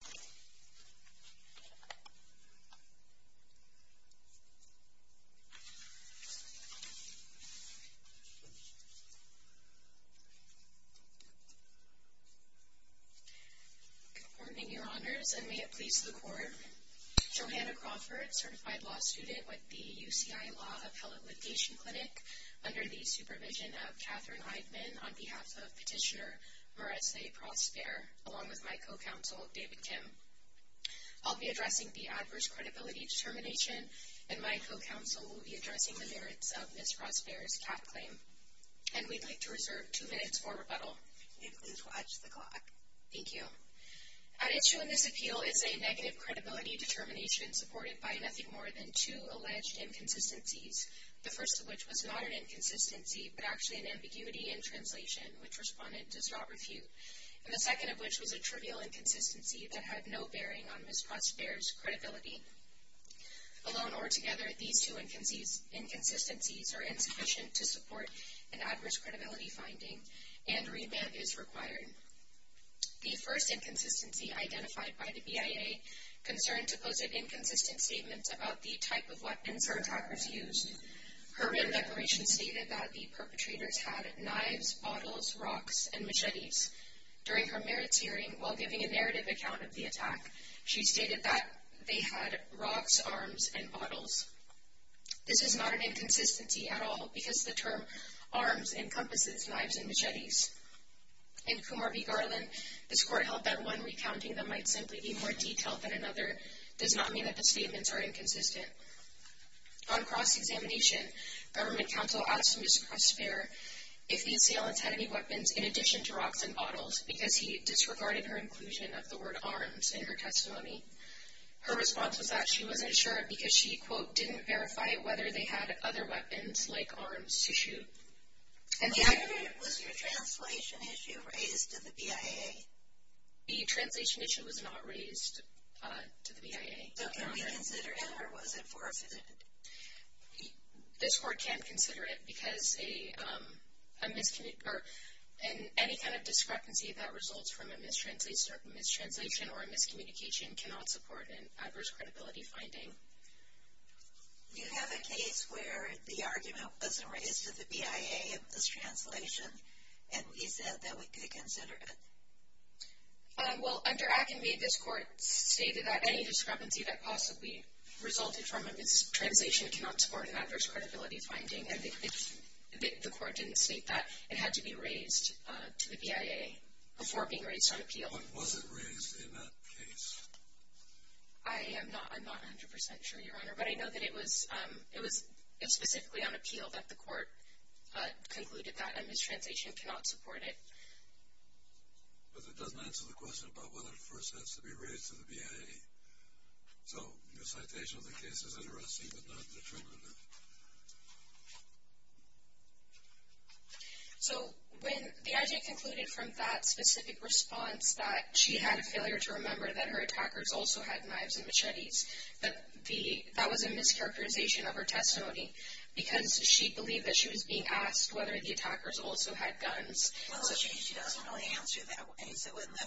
Good morning, Your Honors, and may it please the Court, Johanna Crawford, Certified Law Student with the UCI Law Appellate Litigation Clinic, under the supervision of Katherine I'll be addressing the adverse credibility determination, and my co-counsel will be addressing the merits of Ms. Prospere's cat claim. And we'd like to reserve two minutes for rebuttal. And please watch the clock. Thank you. At issue in this appeal is a negative credibility determination supported by nothing more than two alleged inconsistencies, the first of which was not an inconsistency, but actually an ambiguity in translation, which Respondent does not refute, and the second of which was a trivial inconsistency that had no bearing on Ms. Prospere's credibility. Alone or together, these two inconsistencies are insufficient to support an adverse credibility finding, and remand is required. The first inconsistency identified by the BIA concerned to pose an inconsistent statement about the type of weapons her attackers used. Her remand declaration stated that the perpetrators had knives, bottles, rocks, and machetes. During her merits hearing, while giving a narrative account of the attack, she stated that they had rocks, arms, and bottles. This is not an inconsistency at all, because the term arms encompasses knives and machetes. In Kumar v. Garland, the score held that one recounting them might simply be more detailed than another does not mean that the statements are inconsistent. On cross-examination, Government Counsel asked Ms. Prospere if the assailants had any weapons in addition to rocks and bottles, because he disregarded her inclusion of the word arms in her testimony. Her response was that she wasn't sure because she, quote, didn't verify whether they had other weapons, like arms, to shoot. And the... Was your translation issue raised to the BIA? The translation issue was not raised to the BIA. So can we consider it, or was it forfeited? This court can't consider it, because any kind of discrepancy that results from a mistranslation or a miscommunication cannot support an adverse credibility finding. Do you have a case where the argument wasn't raised to the BIA in this translation, and we said that we could consider it? Well, under ACME, this court stated that any discrepancy that possibly resulted from a mistranslation cannot support an adverse credibility finding, and the court didn't state that. It had to be raised to the BIA before being raised on appeal. But was it raised in that case? I am not 100% sure, Your Honor, but I know that it was specifically on appeal that the court concluded that a mistranslation cannot support it. But that doesn't answer the question about whether it first has to be raised to the BIA. So your citation of the case is interesting, but not detrimental. So when the I.J. concluded from that specific response that she had a failure to remember that her attackers also had knives and machetes, that was a mischaracterization of her testimony, because she believed that she was being asked whether the attackers also had guns. So she doesn't really answer that way. So when the,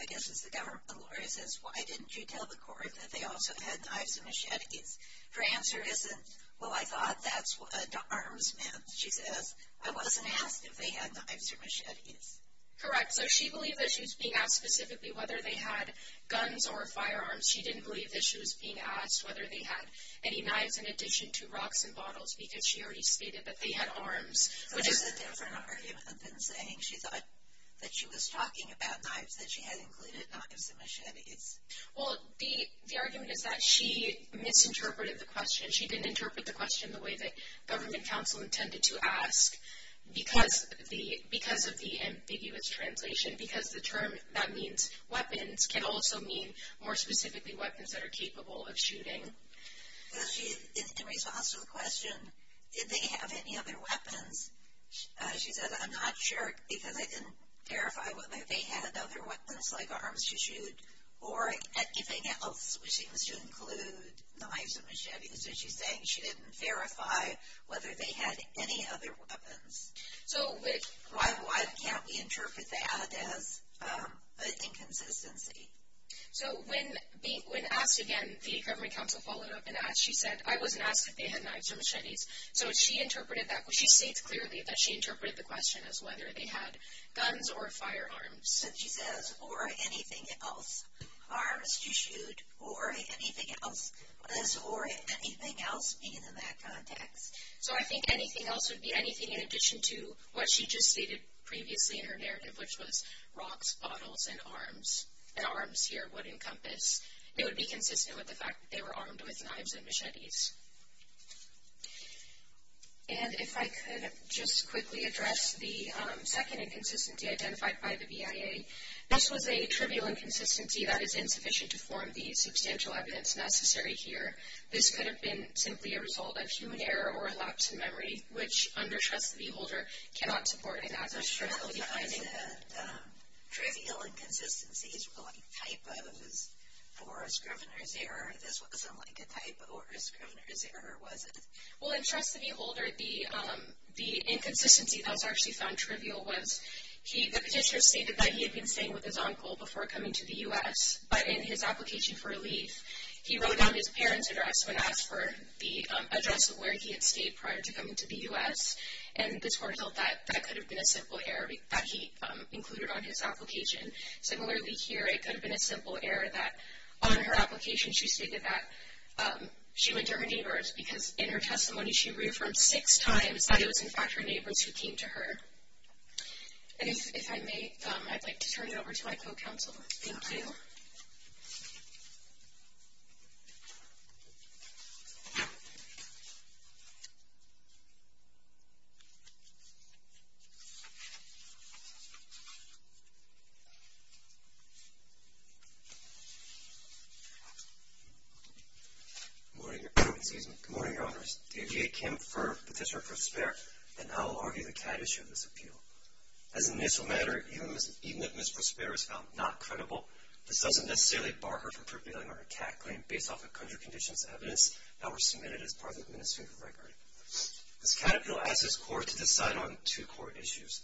I guess it's the government lawyer, says, why didn't you tell the court that they also had knives and machetes? Her answer isn't, well, I thought that's what arms meant. She says, I wasn't asked if they had knives or machetes. Correct. So she believed that she was being asked specifically whether they had guns or firearms. She didn't believe that she was being asked whether they had any knives in addition to rocks and bottles, because she already stated that they had arms. So that's a different argument than saying she thought that she was talking about knives, that she had included knives and machetes. Well, the argument is that she misinterpreted the question. She didn't interpret the question the way that government counsel intended to ask because of the ambiguous translation, because the term that means weapons can also mean, more specifically, weapons that are capable of shooting. In response to the question, did they have any other weapons, she said, I'm not sure because I didn't verify whether they had other weapons like arms to shoot or anything else, which seems to include knives and machetes. So she's saying she didn't verify whether they had any other weapons. So why can't we interpret that as an inconsistency? So when asked again, the government counsel followed up and asked. She said, I wasn't asked if they had knives or machetes. So she interpreted that. She states clearly that she interpreted the question as whether they had guns or firearms. So she says, or anything else. Arms to shoot or anything else. What does or anything else mean in that context? So I think anything else would be anything in addition to what she just stated previously in her narrative, which was rocks, bottles, and arms. And arms here would encompass, it would be consistent with the fact that they were armed with knives and machetes. And if I could just quickly address the second inconsistency identified by the BIA. This was a trivial inconsistency that is insufficient to form the substantial evidence necessary here. This could have been simply a result of human error or a lapse in memory, which under Trust the Beholder cannot support. And as a result of finding that trivial inconsistencies were like typos or a scrivener's error, this wasn't like a typo or a scrivener's error, was it? Well, in Trust the Beholder, the inconsistency that was actually found trivial was, the petitioner stated that he had been staying with his uncle before coming to the U.S. But in his application for leave, he wrote down his parents' address when asked for the address of where he had stayed prior to coming to the U.S. And the tort held that that could have been a simple error that he included on his application. Similarly here, it could have been a simple error that on her application she stated that she went to her neighbors because in her testimony she reaffirmed six times that it was, in fact, her neighbors who came to her. And if I may, I'd like to turn it over to my co-counsel. Thank you. Good morning, Your Honors. David A. Kemp for Petitioner for Spare. And I will argue the caddish of this appeal. As an initial matter, even if Ms. Prospero is found not credible, this doesn't necessarily bar her from prevailing on her CAT claim based off of country conditions evidence that were submitted as part of the administrative record. This catechumal asks this Court to decide on two core issues.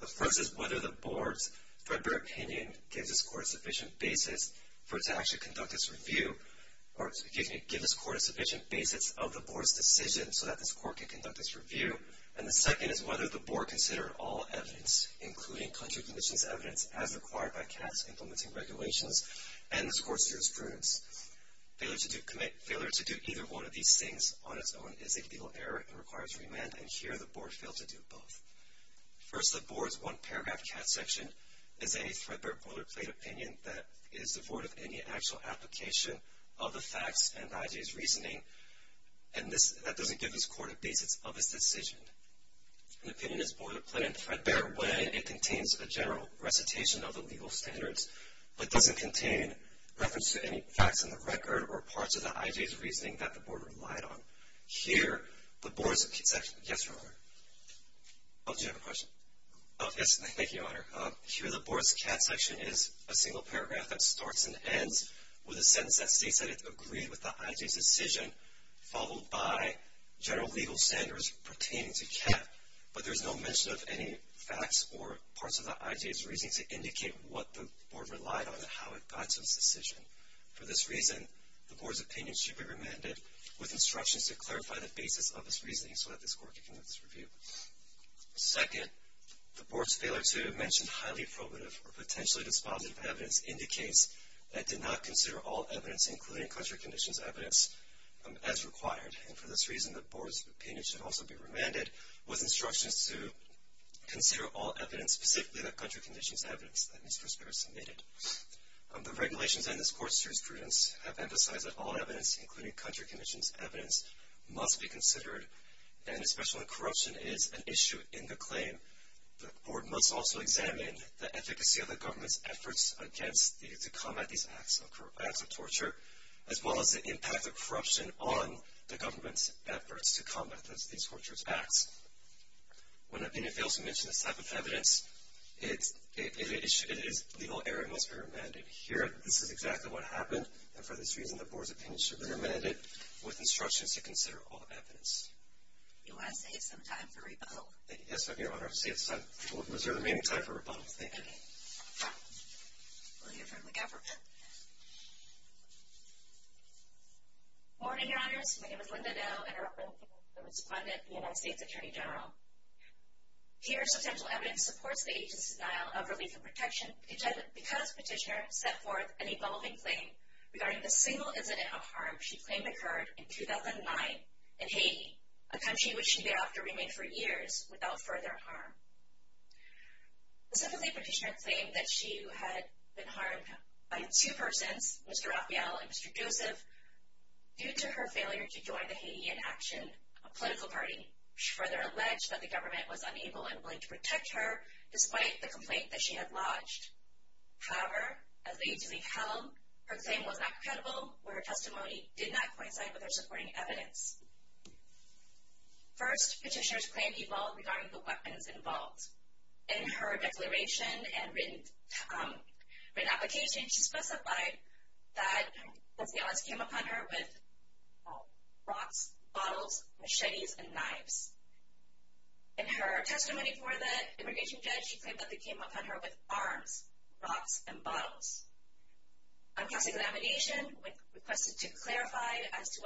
The first is whether the Board's threadbare opinion gives this Court a sufficient basis for it to actually conduct its review, or excuse me, give this Court a sufficient basis of the Board's decision so that this Court can conduct its review. And the second is whether the Board considered all evidence, including country conditions evidence, as required by CAT's implementing regulations and this Court's jurisprudence. Failure to do either one of these things on its own is a legal error and requires remand, and here the Board failed to do both. First, the Board's one-paragraph CAT section is a threadbare boilerplate opinion that is devoid of any actual application of the facts and the IJA's reasoning, and that doesn't give this Court a basis of its decision. An opinion is boilerplate and threadbare when it contains a general recitation of the legal standards but doesn't contain reference to any facts in the record or parts of the IJA's reasoning that the Board relied on. Here, the Board's CAT section is a single paragraph that starts and ends with a sentence that states that it agreed with the IJA's decision, followed by general legal standards pertaining to CAT, but there's no mention of any facts or parts of the IJA's reasoning to indicate what the Board relied on and how it got to its decision. For this reason, the Board's opinion should be remanded with instructions to clarify the basis of its reasoning so that this Court can conduct its review. Second, the Board's failure to mention highly probative or potentially dispositive evidence indicates that it did not consider all evidence, including country conditions evidence, as required. For this reason, the Board's opinion should also be remanded with instructions to consider all evidence, specifically the country conditions evidence that Ms. Prospero submitted. The regulations in this Court's jurisprudence have emphasized that all evidence, including country conditions evidence, must be considered, and especially when corruption is an issue in the claim, the Board must also examine the efficacy of the government's efforts to combat these acts of torture, as well as the impact of corruption on the government's efforts to combat these tortured acts. When an opinion fails to mention this type of evidence, it is legal error and must be remanded. Here, this is exactly what happened, and for this reason, the Board's opinion should be remanded with instructions to consider all evidence. Do I save some time for rebuttal? Yes, Madam Your Honor. Save some time for rebuttal. Is there remaining time for rebuttal? Thank you. We'll hear from the government. Good morning, Your Honors. My name is Linda Doe, and I represent the people who responded, the United States Attorney General. Here, substantial evidence supports the agency's denial of relief and protection, because Petitioner set forth an evolving claim regarding the single incident of harm she claimed occurred in 2009 in Haiti, a country which she thereafter remained for years without further harm. Specifically, Petitioner claimed that she had been harmed by two persons, Mr. Raphael and Mr. Joseph, due to her failure to join the Haiti In Action political party. She further alleged that the government was unable and unwilling to protect her, despite the complaint that she had lodged. However, as the agency held, her claim was not credible, where her testimony did not coincide with her supporting evidence. First, Petitioner's claim evolved regarding the weapons involved. In her declaration and written application, she specified that the odds came upon her with rocks, bottles, machetes, and knives. In her testimony before the immigration judge, she claimed that they came upon her with arms, rocks, and bottles. On past examination, when requested to clarify as to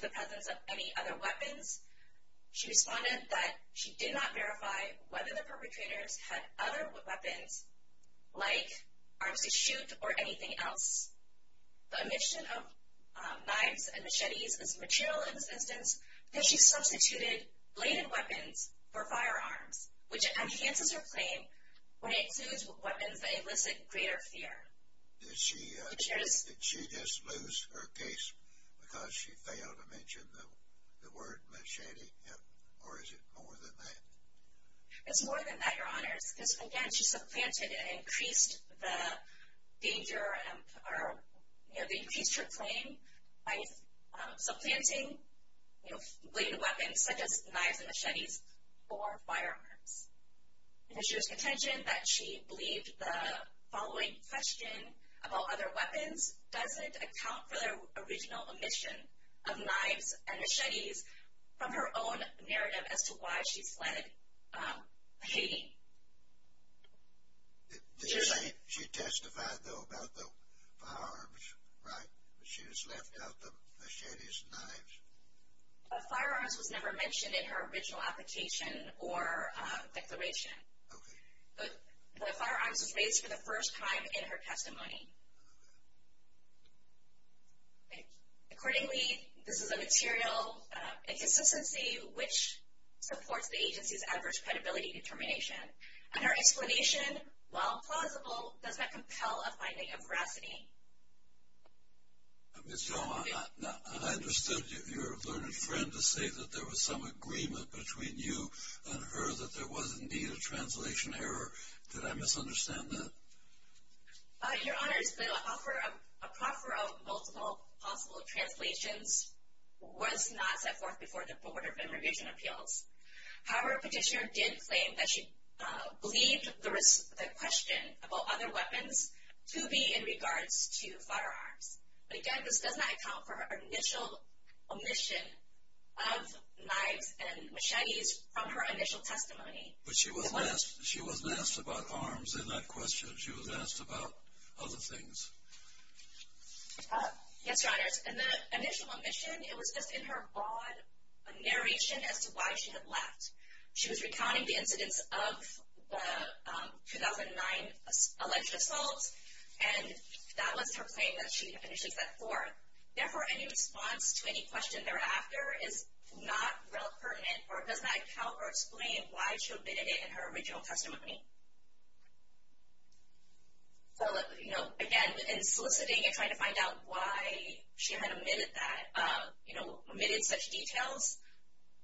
the presence of any other weapons, she responded that she did not verify whether the perpetrators had other weapons like arms to shoot or anything else. The omission of knives and machetes is material in this instance, because she substituted bladed weapons for firearms, which enhances her claim when it includes weapons that elicit greater fear. Did she just lose her case because she failed to mention the word machete, or is it more than that? It's more than that, Your Honors. Again, she supplanted and increased her claim by supplanting bladed weapons such as knives and machetes for firearms. It is your contention that she believed the following question about other weapons doesn't account for the original omission of knives and machetes from her own narrative as to why she fled Haiti. Did she testify, though, about the firearms? Right? She just left out the machetes and knives. The firearms was never mentioned in her original application or declaration. Okay. The firearms was raised for the first time in her testimony. Accordingly, this is a material inconsistency, which supports the agency's adverse credibility determination. And her explanation, while plausible, does not compel a finding of veracity. Ms. Yoma, I understood your learned friend to say that there was some agreement between you and her, so that there was indeed a translation error. Did I misunderstand that? Your Honors, the offer of multiple possible translations was not set forth before the Board of Immigration Appeals. However, Petitioner did claim that she believed the question about other weapons to be in regards to firearms. But again, this does not account for her initial omission of knives and machetes from her initial testimony. But she wasn't asked about arms in that question. She was asked about other things. Yes, Your Honors. In the initial omission, it was just in her broad narration as to why she had left. She was recounting the incidents of the 2009 alleged assaults, and that was her claim that she finishes that floor. Therefore, any response to any question thereafter is not real pertinent or does not account or explain why she omitted it in her original testimony. So, you know, again, in soliciting and trying to find out why she had omitted that, you know, omitted such details,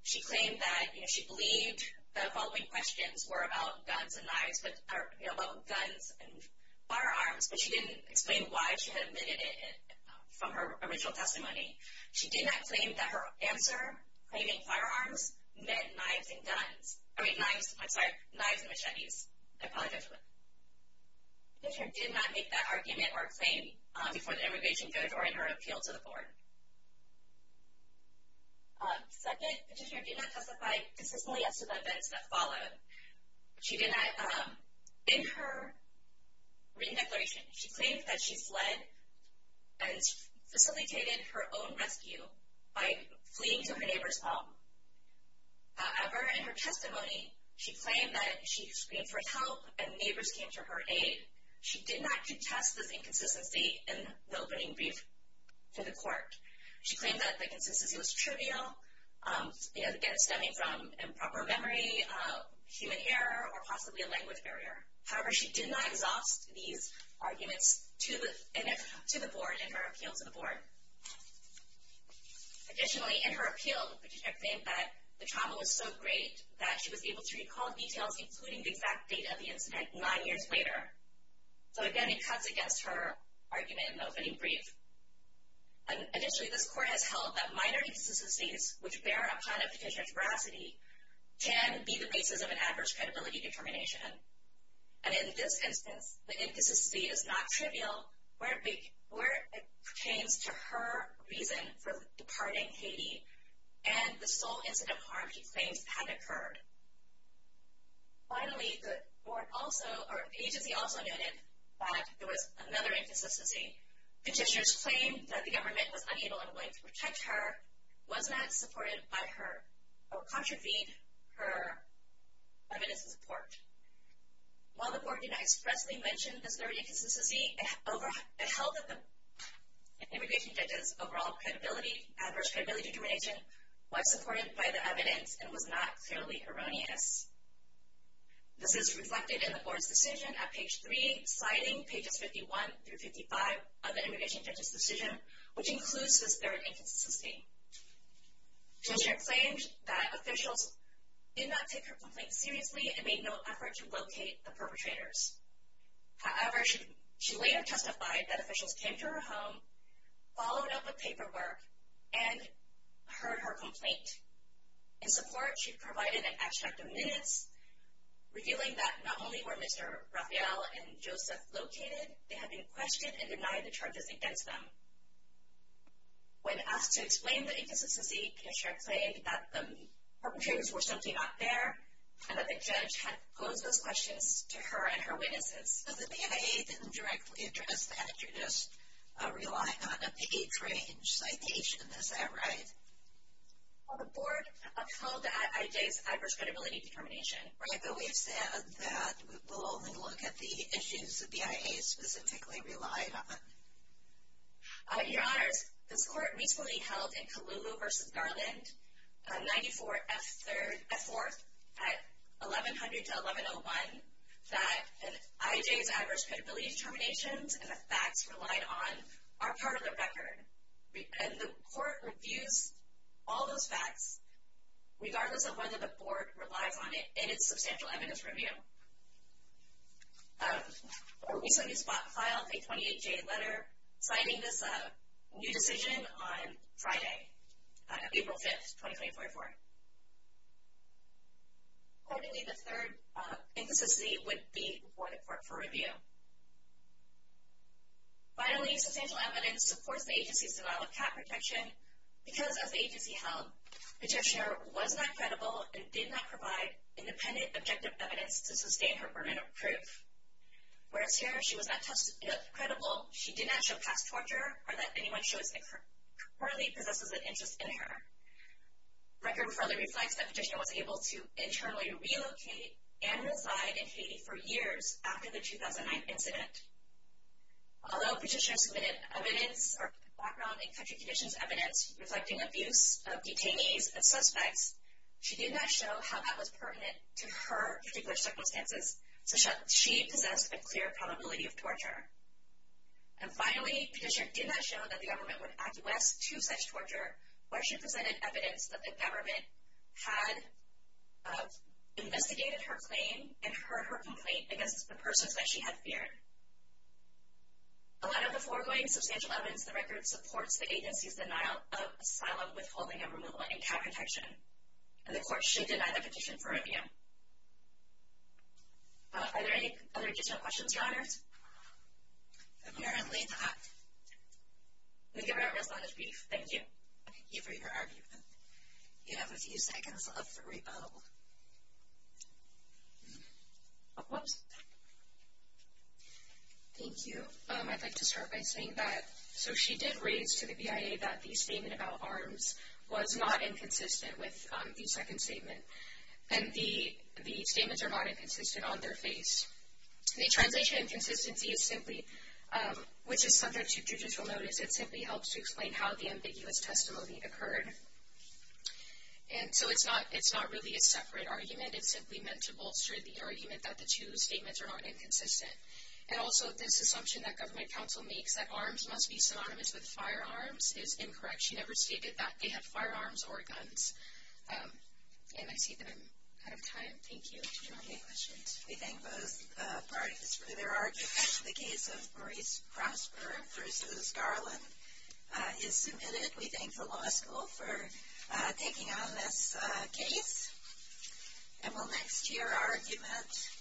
she claimed that she believed the following questions were about guns and firearms, but she didn't explain why she had omitted it from her original testimony. She did not claim that her answer, claiming firearms, meant knives and machetes. I apologize for that. Petitioner did not make that argument or claim before the immigration judge or in her appeal to the Board. Second, petitioner did not testify consistently as to the events that followed. In her written declaration, she claimed that she fled and facilitated her own rescue by fleeing to her neighbor's home. However, in her testimony, she claimed that she screamed for help and neighbors came to her aid. She did not contest this inconsistency in the opening brief to the court. She claimed that the consistency was trivial, again, stemming from improper memory, human error, or possibly a language barrier. However, she did not exhaust these arguments to the Board in her appeal to the Board. Additionally, in her appeal, the petitioner claimed that the trauma was so great that she was able to recall details, including the exact date of the incident, nine years later. So, again, it cuts against her argument in the opening brief. Additionally, this court has held that minor inconsistencies, which bear upon a petitioner's veracity, can be the basis of an adverse credibility determination. And in this instance, the inconsistency is not trivial where it pertains to her reason for departing Haiti and the sole incident of harm she claims had occurred. Finally, the agency also noted that there was another inconsistency. Petitioners claimed that the government was unable and unwilling to protect her, was not supported by her, or contravened her evidence of support. While the Board did not expressly mention this third inconsistency, it held that the immigration judge's overall credibility, adverse credibility determination, was supported by the evidence and was not clearly erroneous. This is reflected in the Board's decision at page 3, citing pages 51 through 55 of the immigration judge's decision, which includes this third inconsistency. The petitioner claimed that officials did not take her complaint seriously and made no effort to locate the perpetrators. However, she later testified that officials came to her home, followed up with paperwork, and heard her complaint. In support, she provided an abstract of minutes revealing that not only were Mr. Rafael and Joseph located, they had been questioned and denied the charges against them. When asked to explain the inconsistency, the petitioner claimed that the perpetrators were simply not there and that the judge had posed those questions to her and her witnesses. The BIA didn't directly address the attributes, relying on a page-range citation, is that right? The Board upheld the IJ's adverse credibility determination. Right, but we've said that we'll only look at the issues the BIA specifically relied on. Your Honors, this Court recently held in Colugo v. Garland 94F4 at 1100-1101 that the IJ's adverse credibility determinations and the facts relied on are part of the record. And the Court reviews all those facts, regardless of whether the Board relies on it in its substantial evidence review. The Court recently spot-filed a 28-J letter citing this new decision on Friday, April 5, 2024. Accordingly, the third inconsistency would be reported for review. Finally, substantial evidence supports the agency's denial of cap protection because, as the agency held, the petitioner was not credible and did not provide independent, objective evidence to sustain her burden of proof. Whereas here, she was not tested credible, she did not show past torture, or that anyone she was informally possessed with an interest in her. The record further reflects that the petitioner was able to internally relocate and reside in Haiti for years after the 2009 incident. Although the petitioner submitted evidence or background and country conditions evidence reflecting abuse of detainees and suspects, she did not show how that was pertinent to her particular circumstances, such that she possessed a clear probability of torture. And finally, the petitioner did not show that the government would acquiesce to such torture, where she presented evidence that the government had investigated her claim and heard her complaint against the persons that she had feared. A lot of the foregoing substantial evidence in the record supports the agency's denial of asylum, withholding, and removal in cap protection, and the Court should deny the petition for review. Are there any other additional questions, Your Honors? Apparently not. The given out response is brief. Thank you. Thank you for your argument. You have a few seconds left for rebuttal. Thank you. I'd like to start by saying that, so she did raise to the BIA that the statement about arms was not inconsistent with the second statement, and the statements are not inconsistent on their face. The translation inconsistency is simply, which is subject to judicial notice. It simply helps to explain how the ambiguous testimony occurred. And so it's not really a separate argument. It's simply meant to bolster the argument that the two statements are not inconsistent. And also, this assumption that government counsel makes that arms must be synonymous with firearms is incorrect. She never stated that they have firearms or guns. And I see that I'm out of time. Thank you. We thank both parties for their arguments. The case of Maurice Prosper v. Garland is submitted. We thank the law school for taking on this case. And we'll next hear our argument.